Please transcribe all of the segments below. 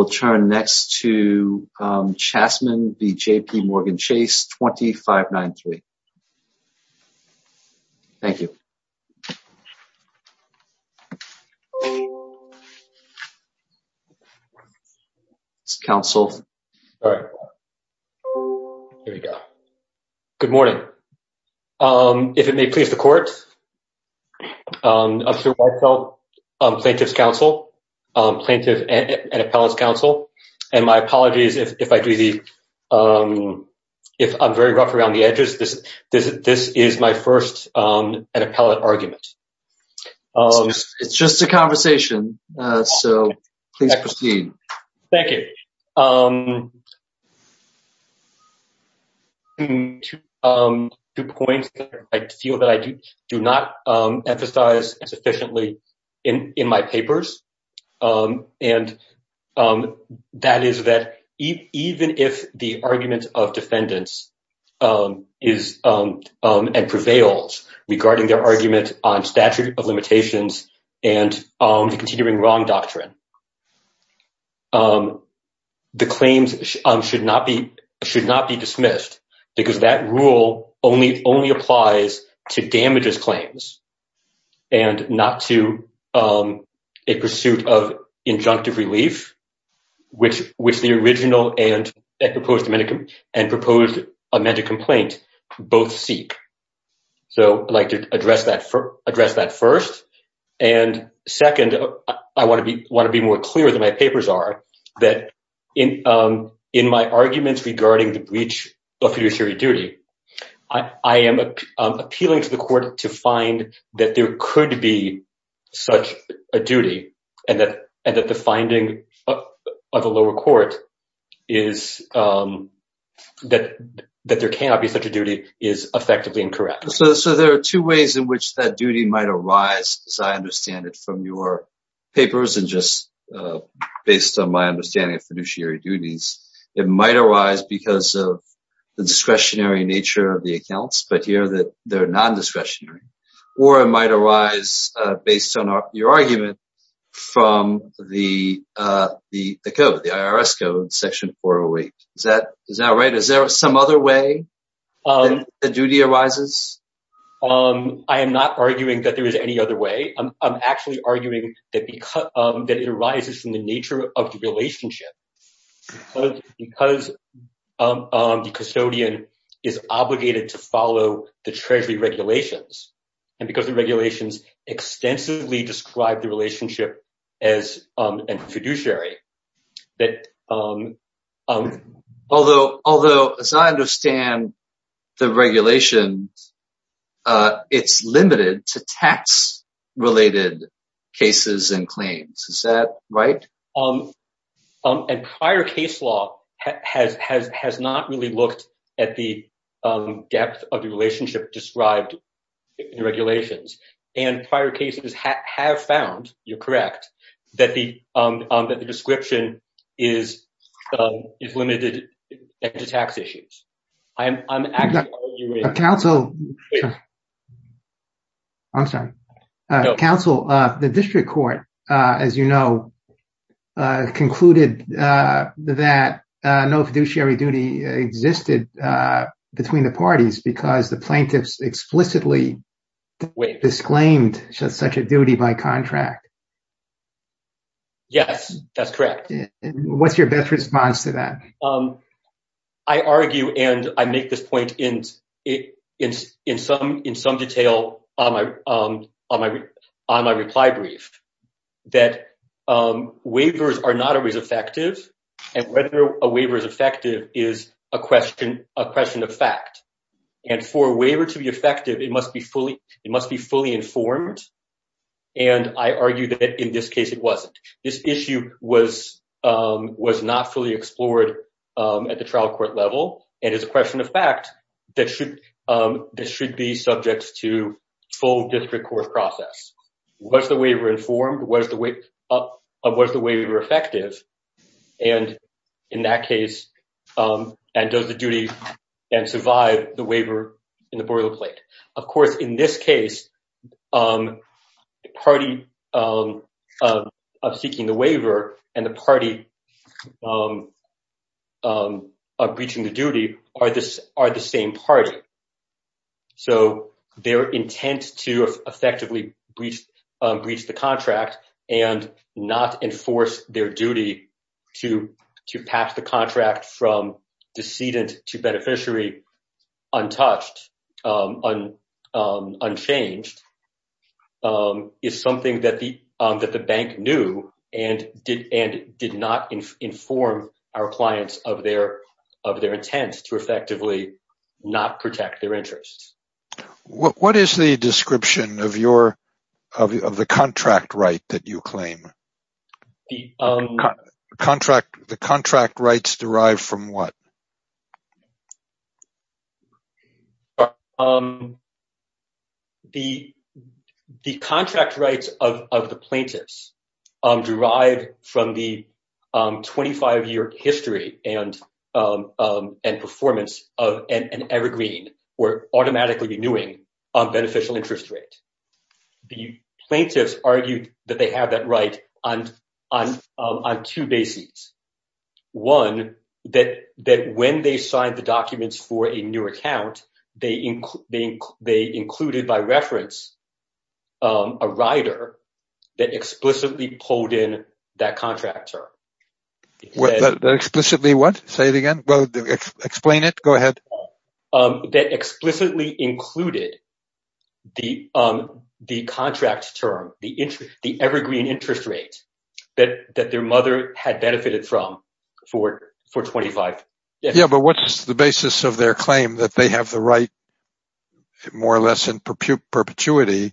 We'll turn next to Chasman v. JP Morgan Chase, 2593. Thank you. It's counsel. All right. Here we go. Good morning. If it may please the court, I'm Sir Weissel, Plaintiff's Counsel, Plaintiff and Appellant's Counsel, and my apologies if I'm very rough around the edges. This is my first appellate argument. It's just a conversation, so please proceed. Thank you. I have two points that I feel that I do not emphasize sufficiently in my papers, and that is that even if the argument of defendants is and prevails regarding their argument on the claims should not be dismissed because that rule only applies to damages claims and not to a pursuit of injunctive relief, which the original and proposed amended complaint both seek. So I'd like to address that first, and second, I want to be more clear than my papers are that in my arguments regarding the breach of fiduciary duty, I am appealing to the court to find that there could be such a duty and that the finding of a lower court is that there cannot be such a duty is effectively incorrect. So there are two ways in which that duty might arise, as I understand it from your papers and just based on my understanding of fiduciary duties, it might arise because of the discretionary nature of the accounts, but here that they're non-discretionary, or it might arise based on your argument from the code, the IRS code, section 408. Is that right? Is there some other way that the duty arises? I am not arguing that there is any other way. I'm actually arguing that it arises from the nature of the relationship, because the custodian is obligated to follow the treasury regulations and because the regulations extensively describe the relationship as fiduciary, that although, as I understand the regulations, it's limited to tax-related cases and claims. Is that right? A prior case law has not really looked at the depth of the relationship described in the regulations, and prior cases have found, you're correct, that the description is limited to tax issues. I'm actually arguing- Counsel, I'm sorry. Counsel, the district court, as you know, concluded that no fiduciary duty existed between the parties because the plaintiffs explicitly disclaimed such a duty by contract. Yes, that's correct. What's your best response to that? I argue, and I make this point in some detail on my reply brief, that waivers are not always effective, and whether a waiver is effective is a question of fact. For a waiver to be effective, it must be fully informed, and I argue that, in this case, it wasn't. This issue was not fully explored at the trial court level, and it's a question of fact that should be subject to full district court process. Was the waiver informed? Was the waiver effective? In that case, does the duty then survive the waiver in the boilerplate? Of course, in this case, the party of seeking the waiver and the party of breaching the duty are the same party, so their intent to effectively breach the contract and not enforce their duty to pass the contract from decedent to beneficiary untouched, unchanged, is something that the bank knew and did not inform our clients of their intent to effectively not protect their interests. What is the description of the contract right that you claim? The contract rights derive from what? The contract rights of the plaintiffs derive from the 25-year history and performance of an evergreen or automatically renewing beneficial interest rate. The plaintiffs argued that they have that right on two bases. One, that when they signed the documents for a new account, they included by reference a rider that explicitly pulled in that contractor. That explicitly what? Say it again. Explain it, go ahead. That explicitly included the contract term, the evergreen interest rate that their mother had benefited from for 25 years. Yeah, but what's the basis of their claim that they have the right, more or less in perpetuity,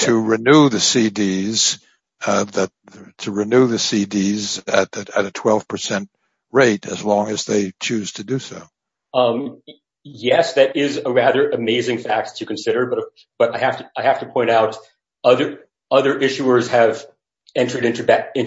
to renew the CDs at a 12 percent rate as long as they choose to do so? Yes, that is a rather amazing fact to consider, but I have to point out other issuers have entered into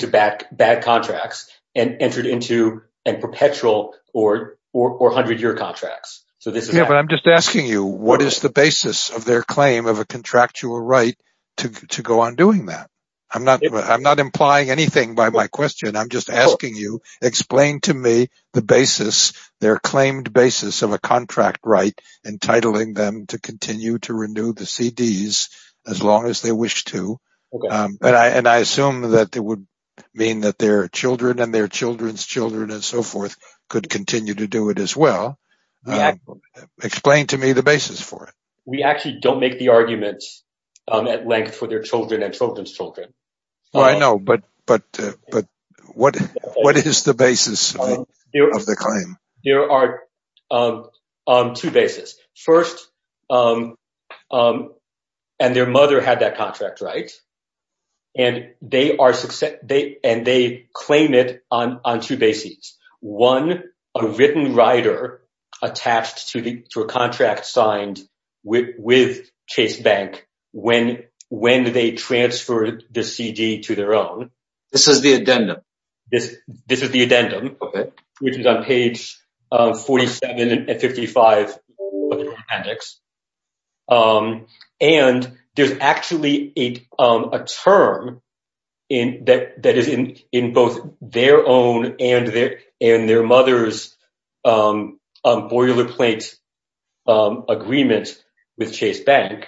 bad contracts and entered into a perpetual or 100-year contracts. So this is what I'm just asking you. What is the basis of their claim of a contractual right to go on doing that? I'm not implying anything by my question. I'm just asking you explain to me the basis, their claimed basis of a contract right entitling them to continue to renew the CDs as long as they wish to. And I assume that it would mean that their children and their children's children and so forth could continue to do it as well. Explain to me the basis for it. We actually don't make the arguments at length for their children and children's children. What is the basis of the claim? There are two basis. First, and their mother had that contract, right? And they claim it on two bases. One, a written rider attached to a contract signed with Chase Bank when they transferred the CD to their own. This is the addendum. This is the addendum, which is on page 47 and 55 of the appendix. And there's actually a term in that that is in in both their own and their and their mother's boilerplate agreement with Chase Bank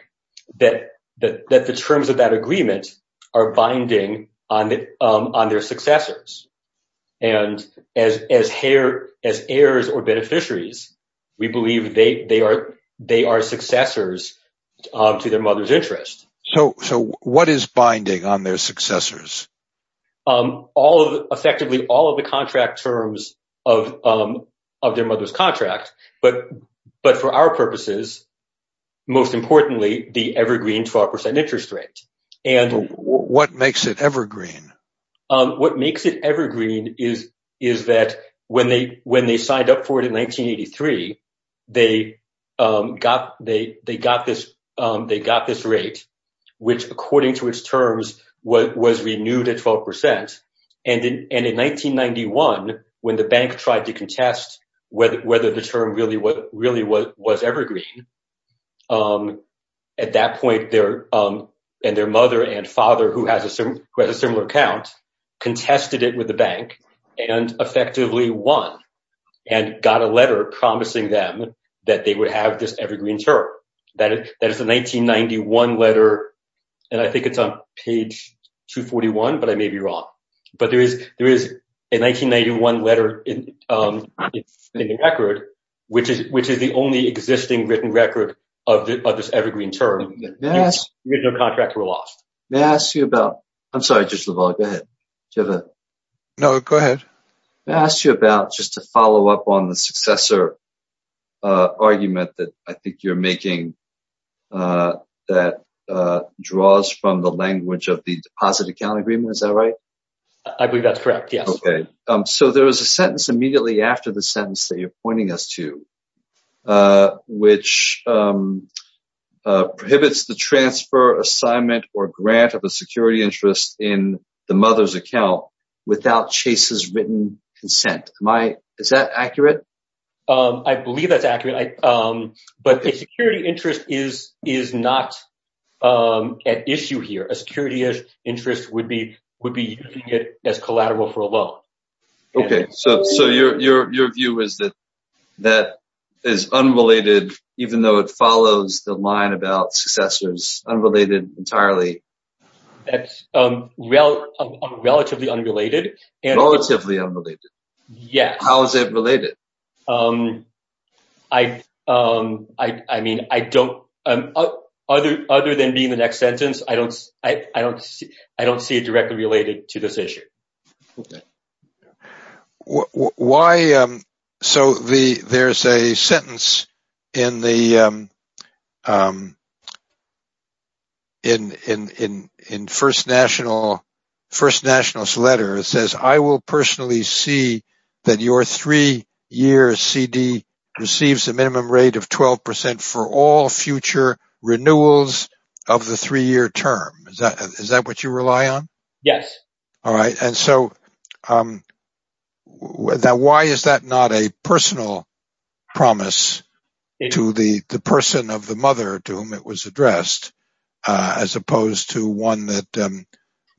that the terms of that agreement are successors. And as as hair, as heirs or beneficiaries, we believe they are they are successors to their mother's interest. So so what is binding on their successors? All of effectively all of the contract terms of of their mother's contract. But but for our purposes, most importantly, the evergreen 12 percent interest rate. And what makes it evergreen? What makes it evergreen is is that when they when they signed up for it in 1983, they got they they got this they got this rate, which, according to its terms, was renewed at 12 percent. And in 1991, when the bank tried to contest whether the term really what really what was evergreen at that point there and their mother and father who has a similar account, contested it with the bank and effectively won and got a letter promising them that they would have this evergreen term that that is the 1991 letter. And I think it's on page 241, but I may be wrong. But there is there is a 1991 letter in the record, which is which is the only existing written record of this evergreen term. Yes. We have no contract to rule off. May I ask you about I'm sorry, Judge LaValle, go ahead. No, go ahead. I asked you about just to follow up on the successor argument that I think you're making that draws from the language of the deposit account agreement. Is that right? I believe that's correct. Yes. OK. So there was a sentence immediately after the sentence that you're pointing us to, which prohibits the transfer, assignment or grant of a security interest in the mother's account without Chase's written consent. Am I is that accurate? I believe that's accurate. But the security interest is is not an issue here. A security interest would be would be as collateral for a loan. OK, so so your your view is that that is unrelated, even though it follows the line about successors unrelated entirely. That's relatively unrelated and relatively unrelated. Yeah. How is it related? I I mean, I don't other other than being the next sentence, I don't I don't I don't see it directly related to this issue. Why? So the there's a sentence in the. In in in in First National First National's letter, it says, I will personally see that your three year CD receives a minimum rate of 12 percent for all future renewals of the three year term. Is that is that what you rely on? Yes. All right. And so why is that not a personal promise to the person of the mother to whom it was addressed, as opposed to one that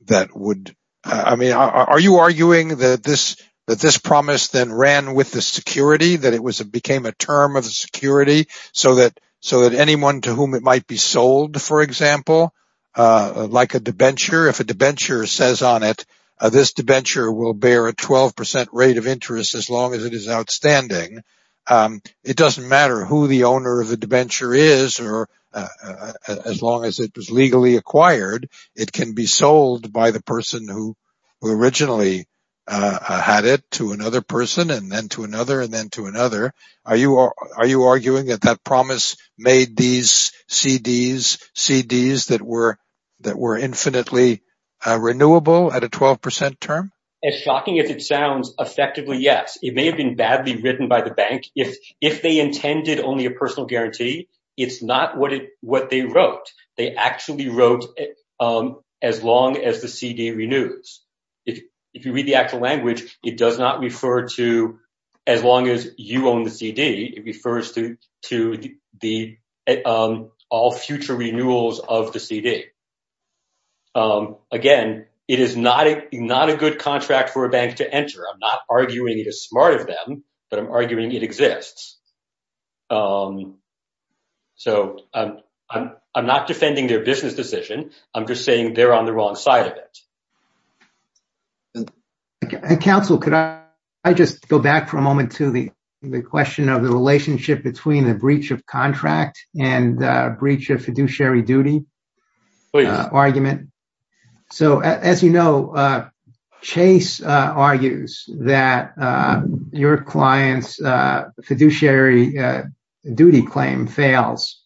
that would I mean, are you arguing that this that this promise then ran with the security, that it was it became a term of security so that so that anyone to whom it might be sold, for example, like a debenture, if a debenture says on it, this debenture will bear a 12 percent rate of interest as long as it is outstanding. It doesn't matter who the owner of the debenture is or as long as it was legally acquired. It can be sold by the person who originally had it to another person and then to another and then to another. Are you are you arguing that that promise made these CDs, CDs that were that were infinitely renewable at a 12 percent term? As shocking as it sounds, effectively, yes. It may have been badly written by the bank if if they intended only a personal guarantee. It's not what it what they wrote. They actually wrote as long as the CD renews. If if you read the actual language, it does not refer to as long as you own the CD, it does not refer to as long as you own the CD. Again, it is not not a good contract for a bank to enter. I'm not arguing it is smart of them, but I'm arguing it exists. So I'm not defending their business decision. I'm just saying they're on the wrong side of it. And counsel, could I just go back for a moment to the question of the relationship between the breach of contract and breach of fiduciary duty argument. So, as you know, Chase argues that your client's fiduciary duty claim fails.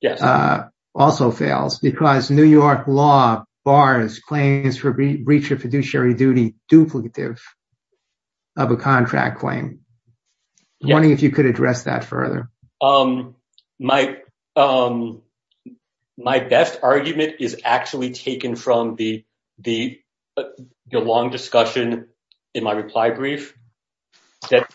Yes. Also fails because New York law bars claims for breach of fiduciary duty duplicative of a contract claim. I'm wondering if you could address that further. My my best argument is actually taken from the the long discussion in my reply brief that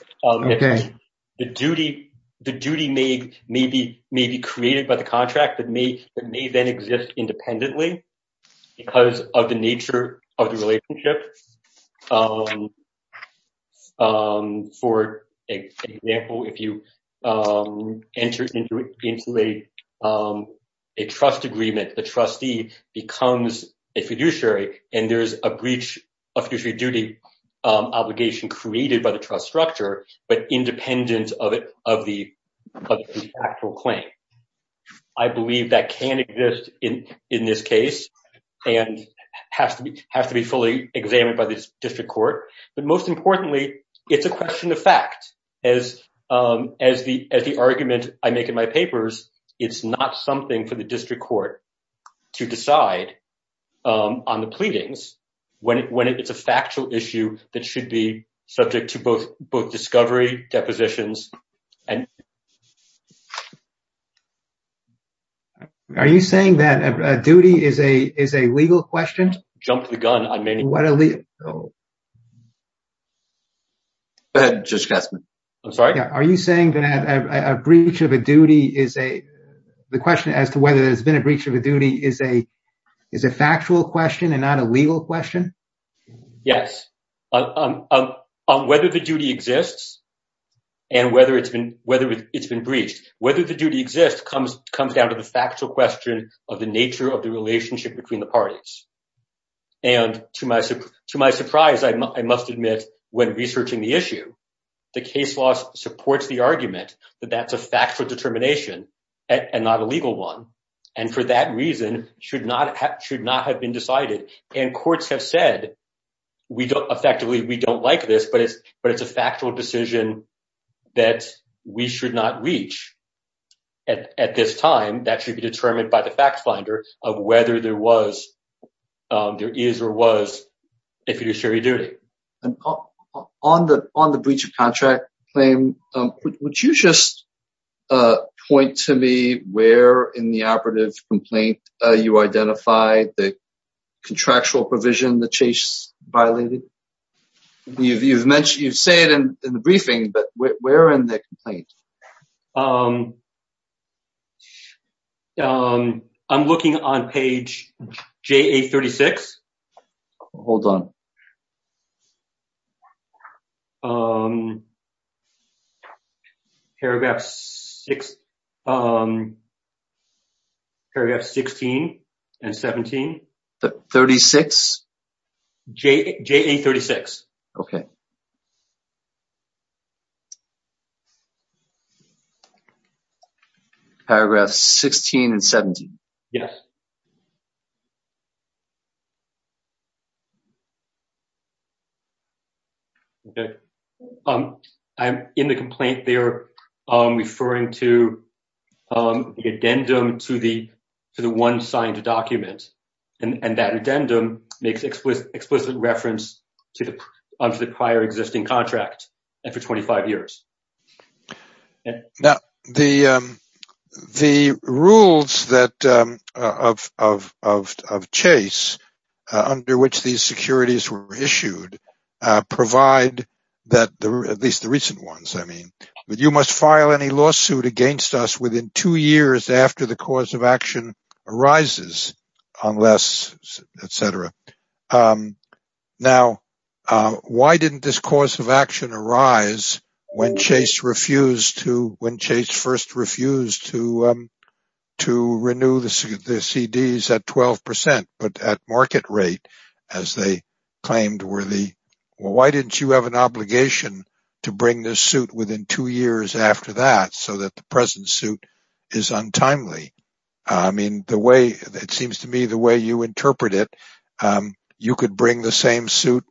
the duty, the duty may maybe may be created by the contract that may that may then exist independently because of the nature of the relationship. For example, if you enter into a trust agreement, the trustee becomes a fiduciary and there is a breach of fiduciary duty obligation created by the trust structure, but independent of it, of the actual claim. I believe that can exist in in this case and has to be has to be fully examined by the district court, but most importantly, it's a question of fact as as the as the argument I make in my papers, it's not something for the district court to decide on the pleadings when it's a factual issue that should be subject to both both discovery depositions and. Are you saying that a duty is a is a legal question? Jumped the gun. I mean, what are the. Just guess. I'm sorry. Are you saying that a breach of a duty is a the question as to whether there's been a breach of a duty is a is a factual question and not a legal question? Yes. On whether the duty exists and whether it's been whether it's been breached, whether the duty exists comes comes down to the factual question of the nature of the relationship between the parties. And to my to my surprise, I must admit, when researching the issue, the case law supports the argument that that's a factual determination and not a legal one. And for that reason, should not have should not have been decided. And courts have said we don't effectively we don't like this, but it's but it's a factual decision that we should not reach at this time. That should be determined by the fact finder of whether there was there is or was if it is jury duty. And on the on the breach of contract claim, would you just point to me where in the operative complaint you identified the contractual provision that Chase violated? You've you've mentioned you've said in the briefing, but where in the complaint? I'm looking on page J.A. 36. Hold on. Um, paragraph six, um, paragraph 16 and 17, the 36 J.A. 36. Okay. Paragraph 16 and 17. Yes. Okay, I'm in the complaint there referring to the addendum to the to the one signed document and that addendum makes explicit explicit reference to the prior existing contract and for 25 years. Now, the the rules that of of of of Chase, under which these securities were issued, provide that at least the recent ones, I mean, you must file any lawsuit against us within two years after the cause of action arises, unless etc. Now, why didn't this course of action arise when Chase refused to when Chase first refused to to renew the CDs at 12 percent, but at market rate, as they claimed, were the why didn't you have an obligation to bring this suit within two years after that so that the present suit is untimely? I mean, the way it seems to me the way you interpret it, you could bring the same suit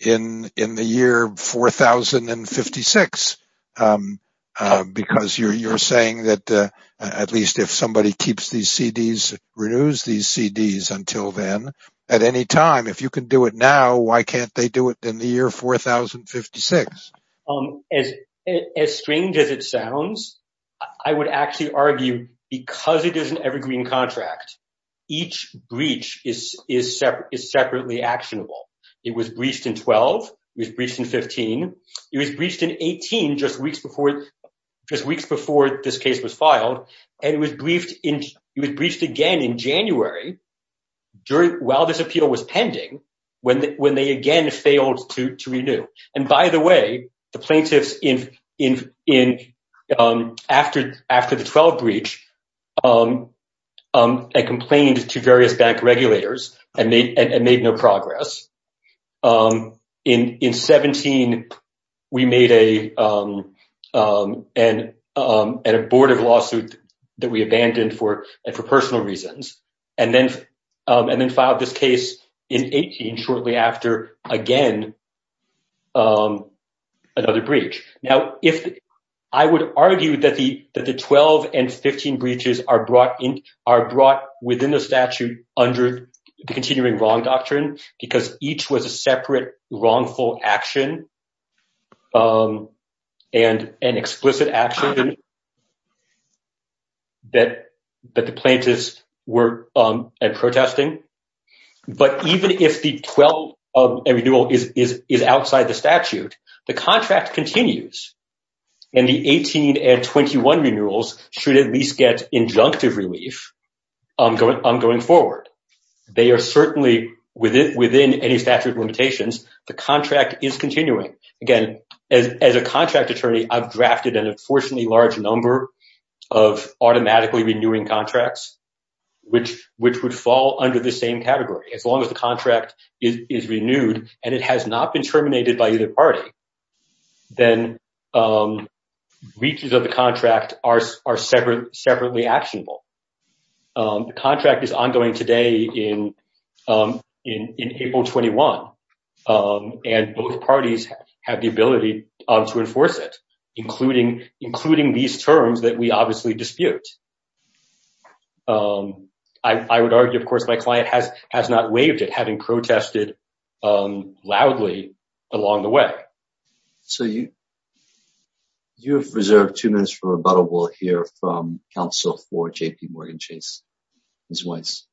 in in the year four thousand and fifty six because you're you're saying that at least if somebody keeps these CDs, renews these CDs until then, at any time, if you can do it now, why can't they do it in the year four thousand fifty six? As as strange as it sounds, I would actually argue because it is an evergreen contract, each breach is is separate, is separately actionable. It was breached in 12. It was breached in 15. It was breached in 18 just weeks before, just weeks before this case was filed. And it was briefed in it was breached again in January during while this appeal was pending, when when they again failed to to renew. And by the way, the plaintiffs in in in after after the 12 breach and complained to various bank regulators and made no progress. In in 17, we made a an abortive lawsuit that we abandoned for and for personal reasons and then and then filed this case in 18 shortly after again. Another breach. Now, if I would argue that the that the 12 and 15 breaches are brought in are brought within the statute under the continuing wrong doctrine because each was a separate wrongful action. And an explicit action. That that the plaintiffs were protesting, but even if the 12 of a renewal is is is outside the statute, the contract continues and the 18 and 21 renewals should at least get injunctive relief on going on going forward. They are certainly within within any statute limitations. The contract is continuing again as a contract attorney. I've drafted an unfortunately large number of automatically renewing contracts, which which would fall under the same category as long as the contract is renewed and it has not been terminated by either party. Then breaches of the contract are are separate, separately actionable. The contract is ongoing today in in in April 21 and both parties have the ability to enforce it, including including these terms that we obviously dispute. I would argue, of course, my client has has not waived it, having protested loudly along the way. So you. You have reserved two minutes for a bottle, we'll hear from counsel for JP Morgan Chase as well as.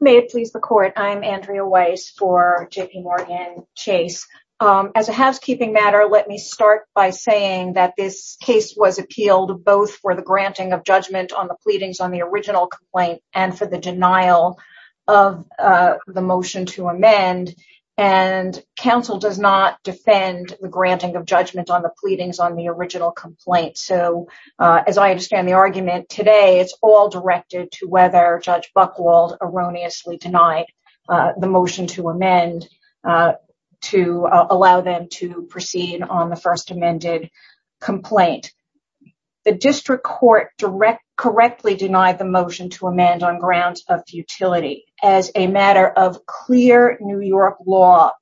May it please the court, I'm Andrea Weiss for JP Morgan Chase as a housekeeping matter, let me start by saying that this case was appealed both for the granting of judgment on the pleadings on the original complaint and for the denial of the motion to amend. And counsel does not defend the granting of judgment on the pleadings on the original complaint. So as I understand the argument today, it's all directed to whether Judge Buchwald erroneously denied the motion to amend to allow them to proceed on the first complaint. The district court directly correctly denied the motion to amend on grounds of futility as a matter of clear New York law.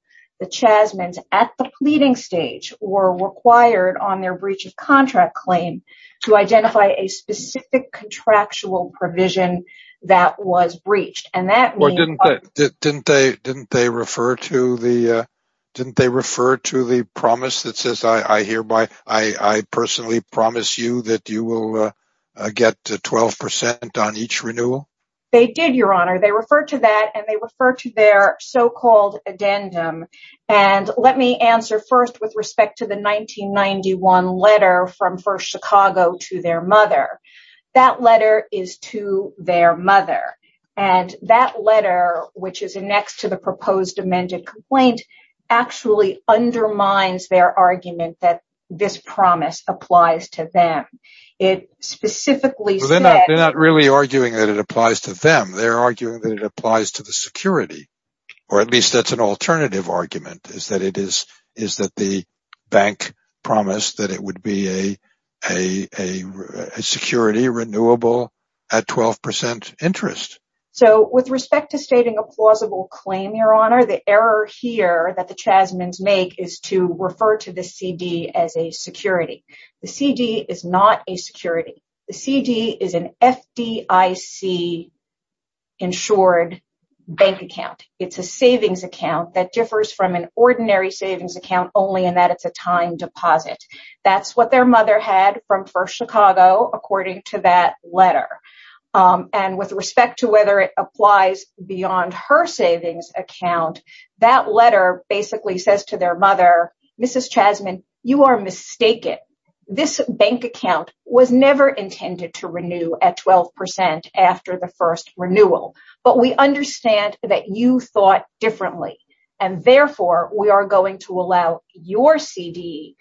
The Chasmans at the pleading stage were required on their breach of contract claim to identify a specific contractual provision that was breached. And that didn't they didn't they didn't they refer to the didn't they refer to the promise that says, I hereby, I personally promise you that you will get to 12 percent on each renewal. They did, your honor. They referred to that and they refer to their so-called addendum. And let me answer first with respect to the 1991 letter from First Chicago to their mother. That letter is to their mother. And that letter, which is next to the proposed amended complaint, actually undermines their argument that this promise applies to them. It specifically said that they're not really arguing that it applies to them. They're arguing that it applies to the security or at least that's an alternative argument is that it is is that the bank promised that it would be a a a security renewable at 12 percent interest. So with respect to stating a plausible claim, your honor, the error here that the Chasmans make is to refer to the CD as a security. The CD is not a security. The CD is an FDIC insured bank account. It's a savings account that differs from an ordinary savings account only in that it's a time deposit. That's what their mother had from First Chicago, according to that letter. And with respect to whether it applies beyond her savings account, that letter basically says to their mother, Mrs. Chasman, you are mistaken. This bank account was never intended to renew at 12 percent after the first renewal. But we understand that you thought differently and therefore we are going to allow your CD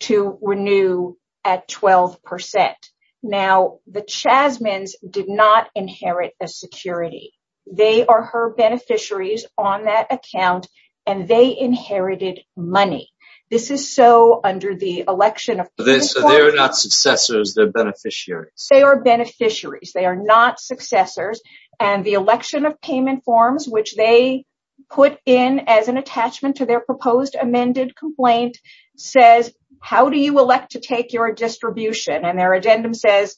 to renew at 12 percent. Now, the Chasmans did not inherit a security. They are her beneficiaries on that account and they inherited money. This is so under the election of this. They are not successors. They're beneficiaries. They are beneficiaries. They are not successors. And the election of payment forms, which they put in as an attachment to their proposed amended complaint, says, how do you elect to take your distribution? And their agenda says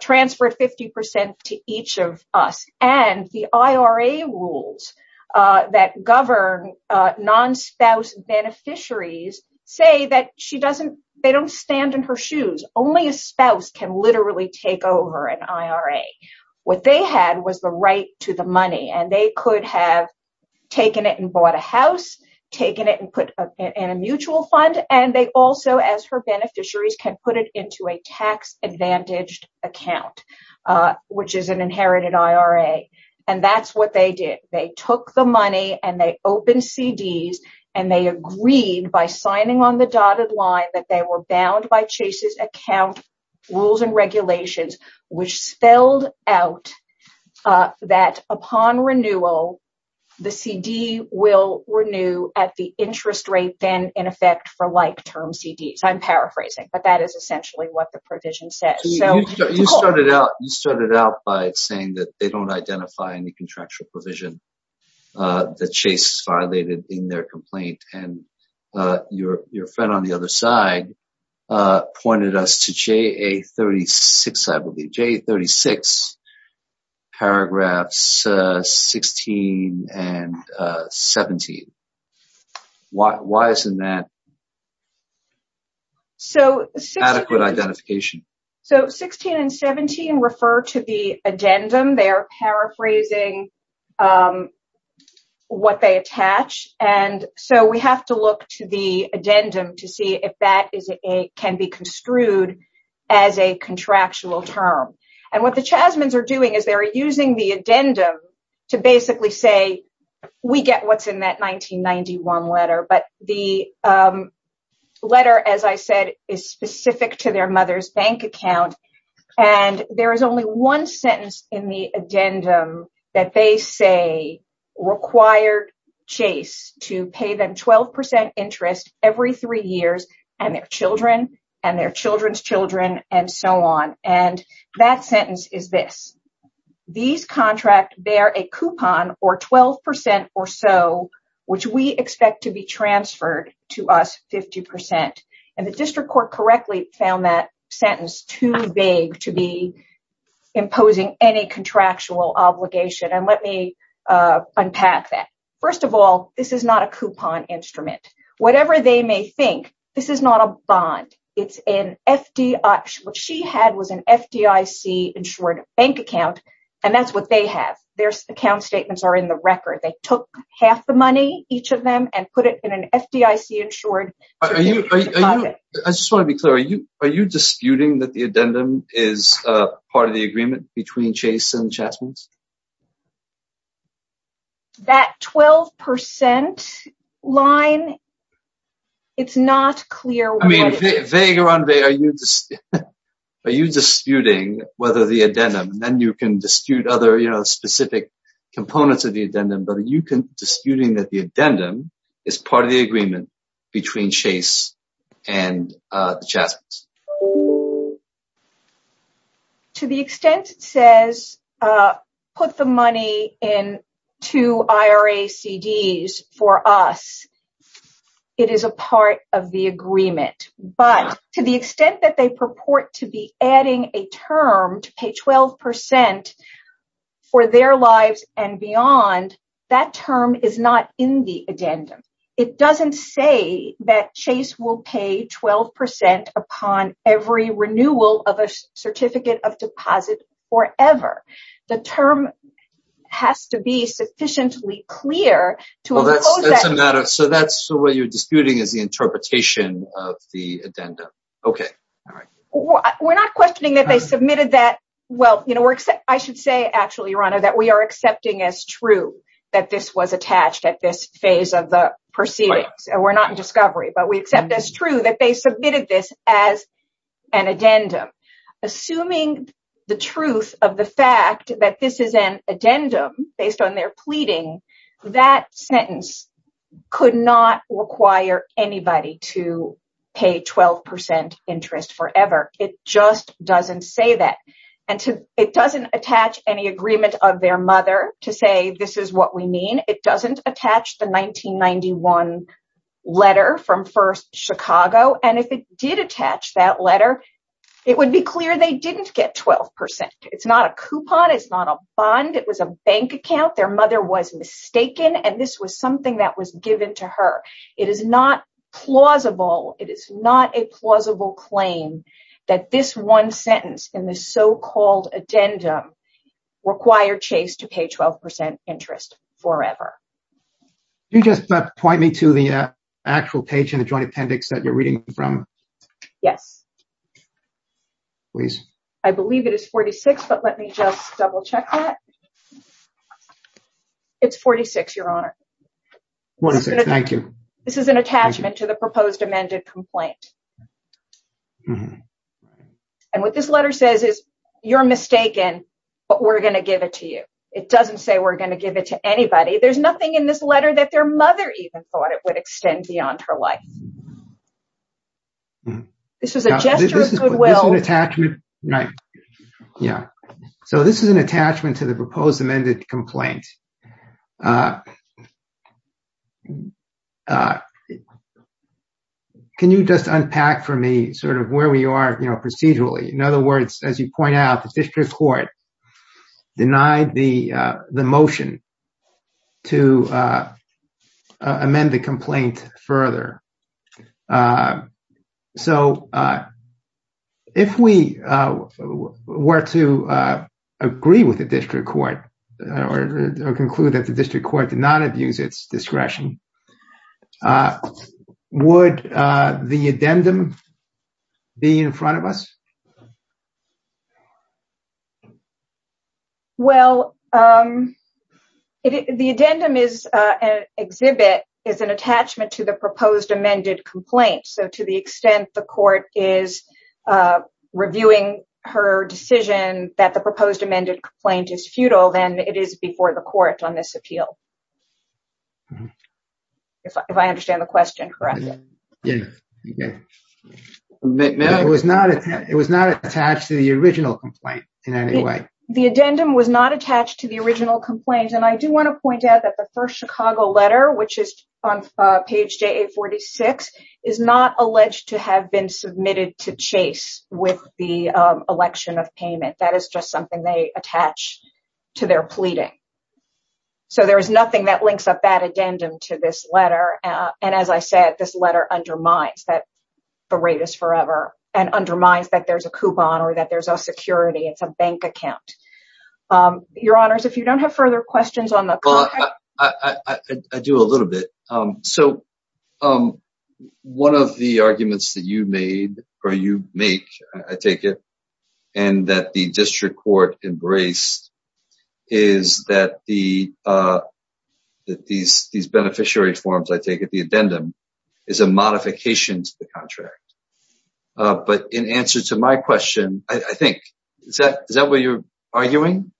transfer 50 percent to each of us. And the IRA rules that govern non-spouse beneficiaries say that she doesn't they don't stand in her shoes. Only a spouse can literally take over an IRA. What they had was the right to the money and they could have taken it and bought a house, taken it and put in a mutual fund. And they also, as her beneficiaries, can put it into a tax advantaged account, which is an inherited IRA. And that's what they did. They took the money and they opened CDs and they agreed by signing on the dotted line that they were bound by Chase's account rules and regulations, which spelled out that upon renewal, the CD will renew at the interest rate then in effect for like term CDs. I'm paraphrasing, but that is essentially what the provision says. So you started out, you started out by saying that they don't identify any contractual provision that Chase violated in their complaint. And your friend on the other side pointed us to J.A. 36, I believe, J.A. 36, paragraphs 16 and 17. Why isn't that? So adequate identification. So 16 and 17 refer to the addendum, they are paraphrasing what they attach. And so we have to look to the addendum to see if that can be construed as a contractual term. And what the Chasmans are doing is they're using the addendum to basically say we get what's in that 1991 letter. But the letter, as I said, is specific to their mother's bank account. And there is only one sentence in the addendum that they say required Chase to pay them 12 percent interest every three years and their children and their children's children and so on. And that sentence is this. These contract bear a coupon or 12 percent or so, which we expect to be transferred to us 50 percent. And the district court correctly found that sentence too vague to be imposing any contractual obligation. And let me unpack that. First of all, this is not a coupon instrument. Whatever they may think, this is not a bond. It's an FD. What she had was an FDIC insured bank account. And that's what they have. Their account statements are in the record. They took half the money, each of them, and put it in an FDIC insured. I just want to be clear. Are you are you disputing that the addendum is part of the agreement between Chase and Chasmans? That 12 percent line. It's not clear. I mean, vague or un-vague, are you disputing whether the addendum and then you can dispute other specific components of the addendum. But are you disputing that the addendum is part of the agreement between Chase and Chasmans? To the extent it says put the money in two IRA CDs for us, it is a part of the agreement. But to the extent that they purport to be adding a term to pay 12 percent for their lives and beyond, that term is not in the addendum. It doesn't say that Chase will pay 12 percent upon every renewal of a certificate of deposit forever. The term has to be sufficiently clear. So that's what you're disputing is the interpretation of the addendum. OK. All right. We're not questioning that they submitted that. Well, I should say, actually, your honor, that we are accepting as true that this was attached at this phase of the proceedings. We're not in discovery, but we accept as true that they submitted this as an addendum. Assuming the truth of the fact that this is an addendum based on their pleading, that sentence could not require anybody to pay 12 percent interest forever. It just doesn't say that. And it doesn't attach any agreement of their mother to say this is what we mean. It doesn't attach the 1991 letter from First Chicago. And if it did attach that letter, it would be clear they didn't get 12 percent. It's not a coupon. It's not a bond. It was a bank account. Their mother was mistaken. And this was something that was given to her. It is not plausible. It is not a plausible claim that this one sentence in the so-called addendum required Chase to pay 12 percent interest forever. You just point me to the actual page in the joint appendix that you're reading from. Yes, please. I believe it is 46. But let me just double check that. It's 46, your honor. What is it? Thank you. This is an attachment to the proposed amended complaint. And what this letter says is you're mistaken, but we're going to give it to you. It doesn't say we're going to give it to anybody. There's nothing in this letter that their mother even thought it would extend beyond her life. This is a gesture of goodwill. Right. Yeah. So this is an attachment to the proposed amended complaint. Can you just unpack for me sort of where we are procedurally? In other words, as you point out, the district court denied the motion. To amend the complaint further. So if we were to agree with the district court or conclude that the district court did not abuse its discretion, would the addendum be in front of us? Well, the addendum is an exhibit, is an attachment to the proposed amended complaint. So to the extent the court is reviewing her decision that the proposed amended complaint is futile, then it is before the court on this appeal. If I understand the question correctly. The addendum was not attached to the original complaint in any way. The addendum was not attached to the original complaint. And I do want to point out that the first Chicago letter, which is on page J.A. 46, is not alleged to have been submitted to Chase with the election of payment. That is just something they attach to their pleading. So there is nothing that links up that addendum to this letter. And as I said, this letter undermines that the rate is forever and undermines that there's a coupon or that there's a security, it's a bank account. Your honors, if you don't have further questions on that, I do a little bit. So one of the arguments that you made or you make, I take it, and that the district court embraced is that the that these these beneficiary forms, I take it the addendum is a modification to the contract. But in answer to my question, I think is that is that what you're arguing?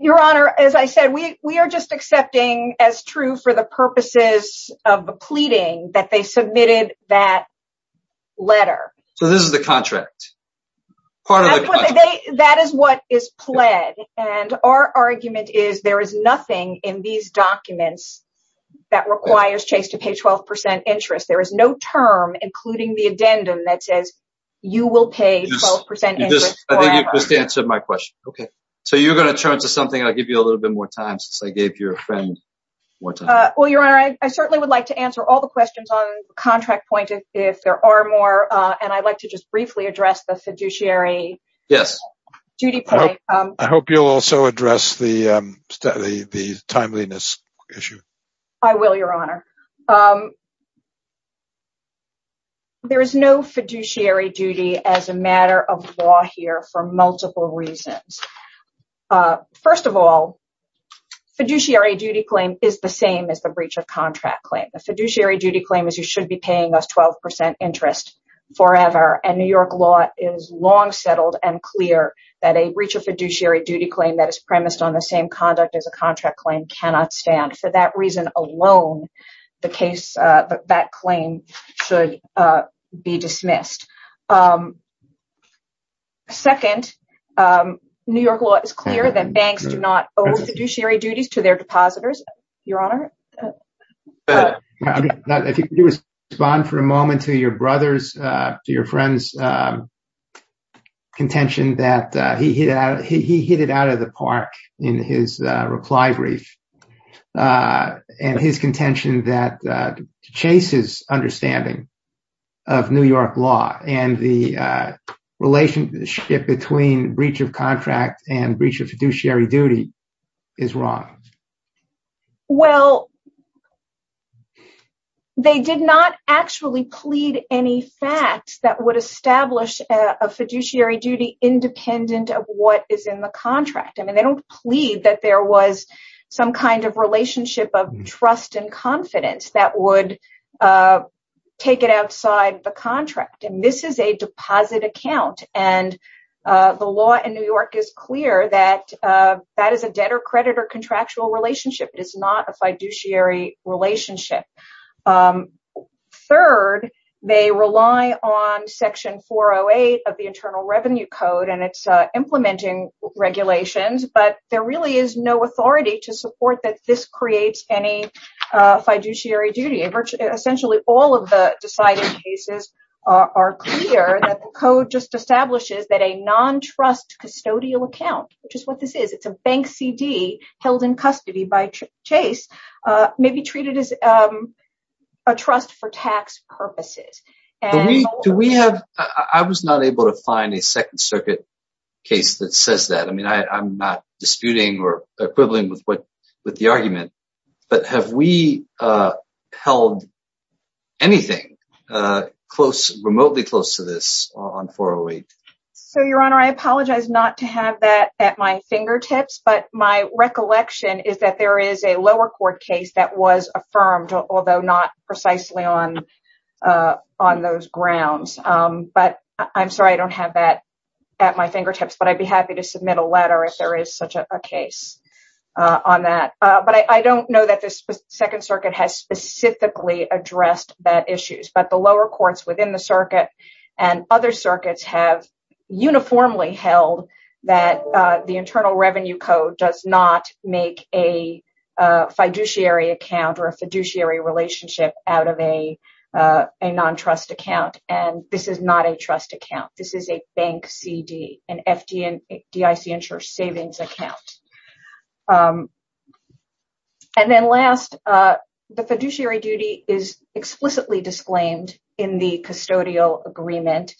Your honor, as I said, we we are just accepting as true for the purposes of the pleading that they submitted that letter. So this is the contract part of it. That is what is pled. And our argument is there is nothing in these documents that requires Chase to pay 12 percent interest. There is no term, including the addendum that says you will pay 12 percent. I think you just answered my question. OK, so you're going to turn to something. I'll give you a little bit more time since I gave you a friend. Well, your honor, I certainly would like to answer all the questions on contract point if there are more. And I'd like to just briefly address the fiduciary. Yes. Judy, I hope you'll also address the the timeliness issue. I will, your honor. There is no fiduciary duty as a matter of law here for multiple reasons. First of all, fiduciary duty claim is the same as the breach of contract claim. The fiduciary duty claim is you should be paying us 12 percent interest forever. And New York law is long settled and clear that a breach of fiduciary duty claim that is premised on the same conduct as a contract claim cannot stand. For that reason alone, the case that claim should be dismissed. Second, New York law is clear that banks do not owe fiduciary duties to their depositors. Your honor. If you could respond for a moment to your brother's, to your friend's contention that he hit out of the park in his reply brief. And his contention that Chase's understanding of New York law and the relationship between breach of contract and breach of fiduciary duty is wrong. Well. They did not actually plead any facts that would establish a fiduciary duty independent of what is in the contract. I mean, they don't plead that there was some kind of relationship of trust and confidence that would take it outside the contract. And this is a deposit account. And the law in New York is clear that that is a debtor-creditor contractual relationship. It is not a fiduciary relationship. Third, they rely on Section 408 of the Internal Revenue Code and its implementing regulations. But there really is no authority to support that this creates any fiduciary duty. Essentially, all of the deciding cases are clear that the code just establishes that a non-trust custodial account, which is what this is, it's a bank CD held in custody by Chase, may be treated as a trust for tax purposes. Do we have... I was not able to find a Second Circuit case that says that. I mean, I'm not disputing or equivalent with the argument. But have we held anything remotely close to this on 408? So, Your Honor, I apologize not to have that at my fingertips. But my recollection is that there is a lower court case that was affirmed, although not precisely on those grounds. But I'm sorry I don't have that at my fingertips. But I'd be happy to submit a letter if there is such a case on that. But I don't know that the Second Circuit has specifically addressed that issue. But the lower courts within the circuit and other circuits have uniformly held that the Internal Revenue Code does not make a fiduciary account or a fiduciary relationship out of a non-trust account. And this is not a trust account. This is a bank CD, an FDIC insurance savings account. And then last, the fiduciary duty is explicitly disclaimed in the custodial agreement.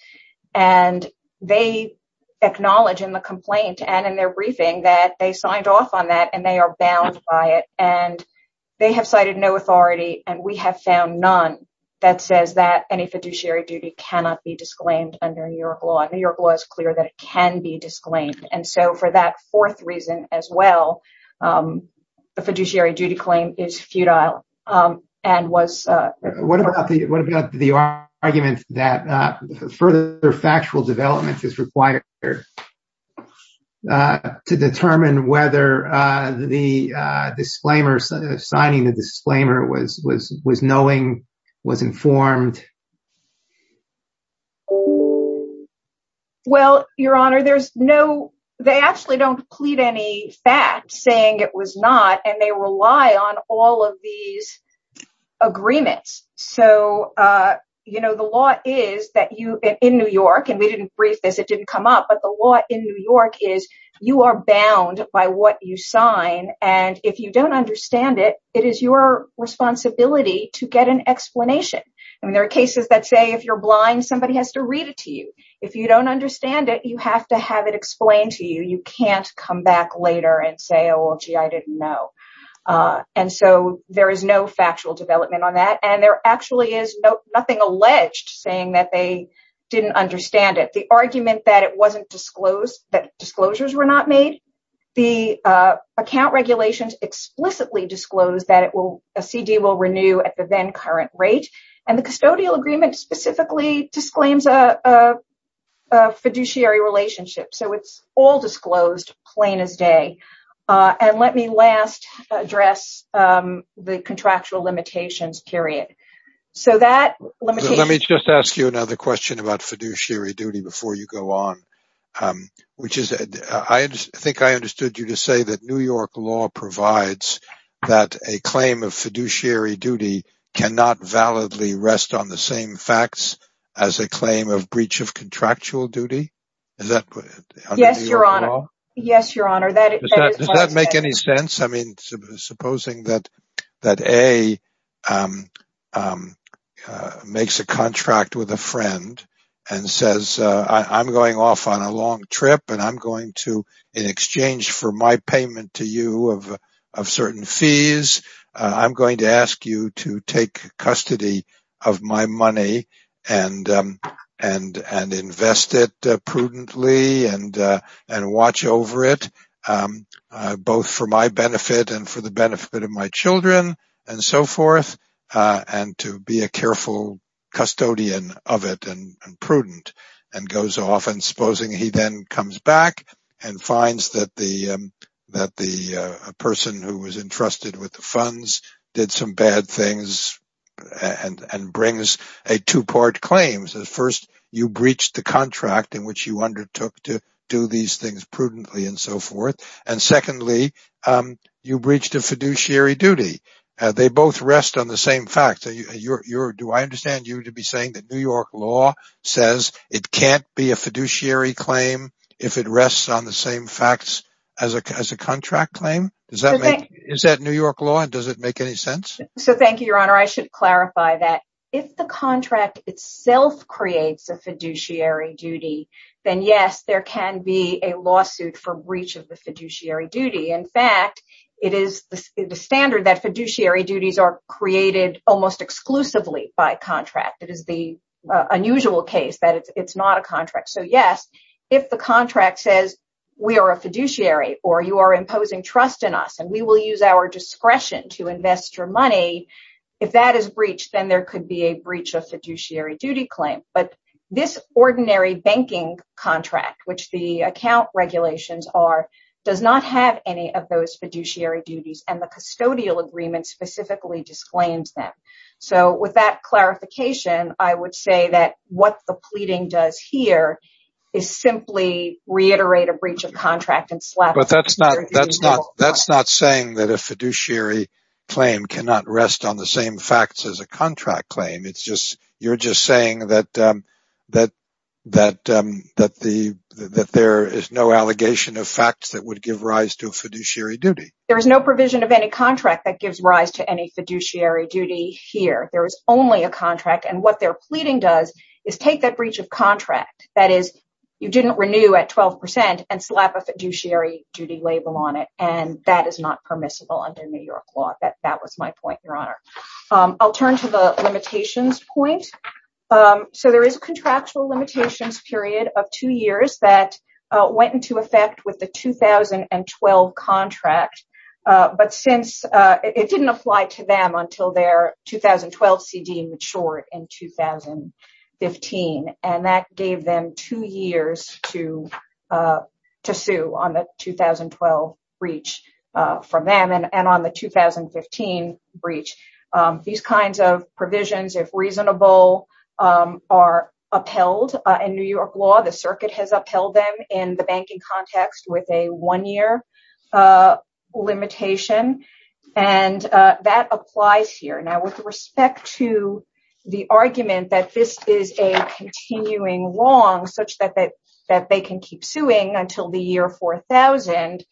And they acknowledge in the complaint and in their briefing that they signed off on that and they are bound by it. And they have cited no authority. And we have found none that says that any fiduciary duty cannot be disclaimed under New York law. And New York law is clear that it can be disclaimed. And so for that fourth reason as well, the fiduciary duty claim is futile. And what about the argument that further factual development is required to determine whether the disclaimer, signing the disclaimer, was knowing, was informed? Well, Your Honor, there's no, they actually don't plead any fact saying it was not. And they rely on all of these agreements. So, you know, the law is that you, in New York, and we didn't brief this, it didn't come up. But the law in New York is you are bound by what you sign. And if you don't understand it, it is your responsibility to get an explanation. I mean, there are cases that say, if you're blind, somebody has to read it to you. If you don't understand it, you have to have it explained to you. You can't come back later and say, oh, gee, I didn't know. And so there is no factual development on that. And there actually is nothing alleged saying that they didn't understand it. The argument that it wasn't disclosed, that disclosures were not made, the account regulations explicitly disclose that it will, a CD will renew at the then current rate. And the custodial agreement specifically disclaims a fiduciary relationship. So it's all disclosed, plain as day. And let me last address the contractual limitations, period. So that let me just ask you another question about fiduciary duty before you go on, which is, I think I understood you to say that New York law provides that a claim of fiduciary duty cannot validly rest on the same facts as a claim of breach of contractual duty. Is that? Yes, Your Honor. Yes, Your Honor. Does that make any sense? I mean, supposing that that A makes a contract with a friend and says, I'm going off on a long trip and I'm going to in exchange for my payment to you of certain fees, I'm going to ask you to take custody of my money and invest it prudently and watch over it, both for my benefit and for the benefit of my children and so forth, and to be a careful custodian of it and prudent and goes off and supposing he then comes back and finds that the that the person who was entrusted with the funds did some bad things and brings a two part claims. First, you breached the contract in which you undertook to do these things prudently and so forth. And secondly, you breached a fiduciary duty. They both rest on the same facts. Do I understand you to be saying that New York law says it can't be a fiduciary claim if it rests on the same facts as a contract claim? Is that New York law and does it make any sense? So thank you, Your Honor. I should clarify that if the contract itself creates a fiduciary duty, then yes, there can be a lawsuit for breach of the fiduciary duty. In fact, it is the standard that fiduciary duties are created almost exclusively by contract. It is the unusual case that it's not a contract. So, yes, if the contract says we are a fiduciary or you are imposing trust in us and we will use our discretion to invest your money, if that is breached, then there could be a breach of fiduciary duty claim. But this ordinary banking contract, which the account regulations are, does not have any of those say that what the pleading does here is simply reiterate a breach of contract. That's not saying that a fiduciary claim cannot rest on the same facts as a contract claim. You're just saying that there is no allegation of facts that would give rise to a fiduciary duty. There is no provision of any contract that gives rise to any fiduciary duty here. There is only a contract. And what they're pleading does is take that breach of contract. That is, you didn't renew at 12% and slap a fiduciary duty label on it. And that is not permissible under New York law. That was my point, Your Honor. I'll turn to the limitations point. So there is a contractual limitations period of two years that went into effect with the 2012 contract. But since it didn't apply to them until their 2012 CD matured in 2015, and that gave them two years to sue on the 2012 breach from them and on the 2015 breach. These kinds of provisions, if reasonable, are upheld in New York law. The circuit has upheld them in the banking context with a one-year limitation. And that applies here. Now with respect to the argument that this is a continuing wrong such that they can keep suing until the year 4000,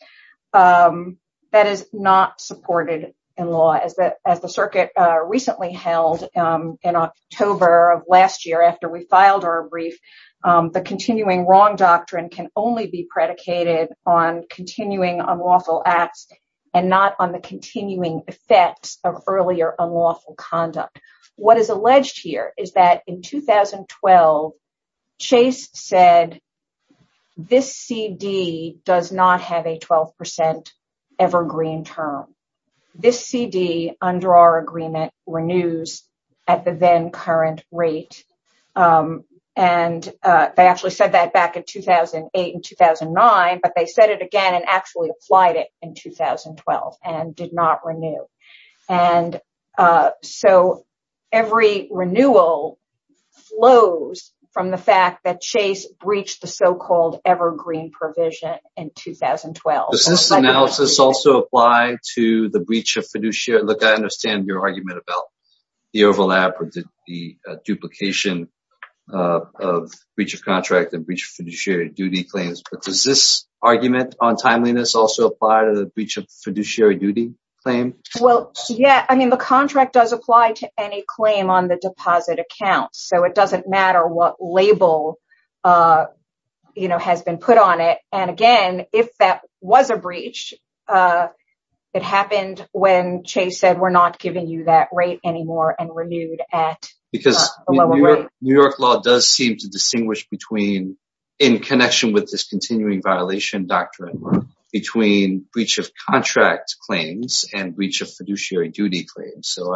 that is not supported in law. As the circuit recently held in October of last year after we filed our brief, the continuing wrong doctrine can only be predicated on continuing unlawful acts and not on the continuing effects of earlier unlawful conduct. What is alleged here is that in 2012, Chase said this CD does not have a 12% evergreen term. This CD under our agreement renews at the current rate. And they actually said that back in 2008 and 2009, but they said it again and actually applied it in 2012 and did not renew. And so every renewal flows from the fact that Chase breached the so-called evergreen provision in 2012. Does this analysis also apply to the breach of fiduciary? Look, I understand your argument about the overlap or the duplication of breach of contract and breach of fiduciary duty claims, but does this argument on timeliness also apply to the breach of fiduciary duty claim? Well, yeah. I mean, the contract does apply to any claim on the deposit account. So it doesn't matter what label has been put on it. And again, if that was a breach, it happened when Chase said we're not giving you that rate anymore and renewed at a lower rate. Because New York law does seem to distinguish between, in connection with this continuing violation doctrine, between breach of contract claims and breach of fiduciary duty claims. So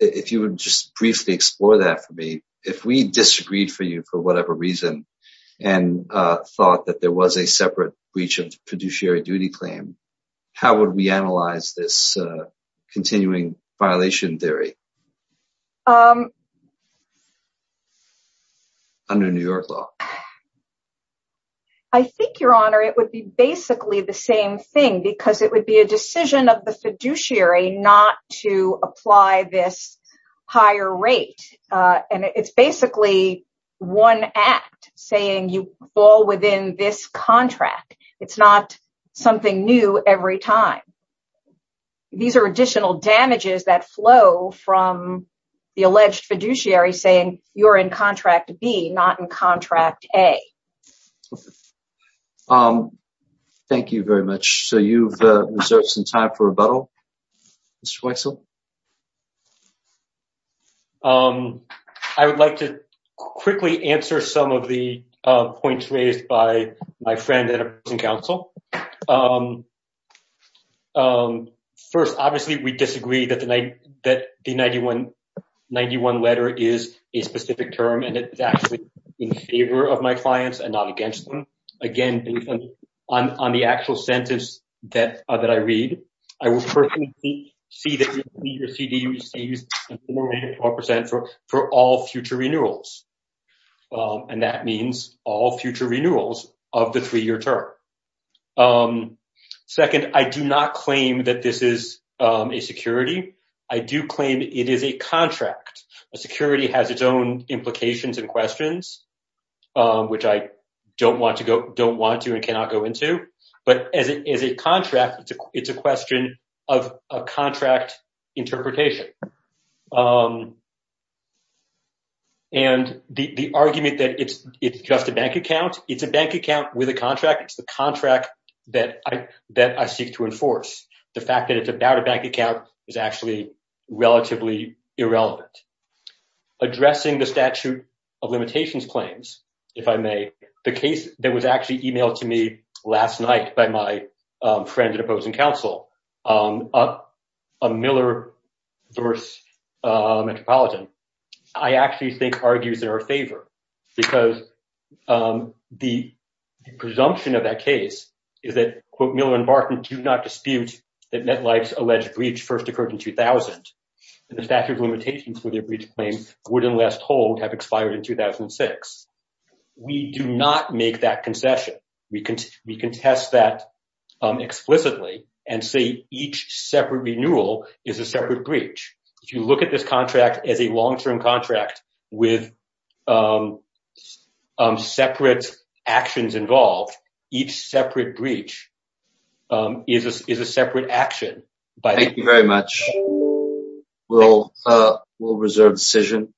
if you would just briefly explore that for me, if we disagreed for you, for whatever reason, and thought that there was a separate breach of fiduciary duty claim, how would we analyze this continuing violation theory under New York law? I think, Your Honor, it would be basically the same thing because it would be a decision of saying you fall within this contract. It's not something new every time. These are additional damages that flow from the alleged fiduciary saying you're in contract B, not in contract A. Thank you very much. So you've reserved some time for rebuttal, Mr. Weissel. I would like to quickly answer some of the points raised by my friend at a prison council. First, obviously, we disagree that the 91 letter is a specific term and it's actually in favor of my clients and not against them. Again, on the actual sentence that I read, I will personally see that your CD receives 4.4% for all future renewals. And that means all future renewals of the three-year term. Second, I do not claim that this is a security. I do claim it is a contract. A security has its own implications and questions, which I don't want to and cannot go into. But as a contract, it's a question of a contract interpretation. And the argument that it's just a bank account, it's a bank account with a contract. It's the contract that I seek to enforce. The fact that it's about a bank account is actually relatively irrelevant. Addressing the statute of limitations claims, if I may, the case that was actually emailed to me last night by my friend at a prison council, a Miller-Dorse Metropolitan, I actually think argues in her favor because the presumption of that case is that, quote, Miller and Barton do not dispute that MetLife's alleged breach first occurred in 2000 and the statute of limitations for their breach claims would, unless told, have expired in 2006. We do not make that concession. We contest that explicitly and say each separate renewal is a separate breach. If you look at this contract as a long-term contract with separate actions involved, each separate breach is a separate action. Thank you very much. We'll reserve the decision.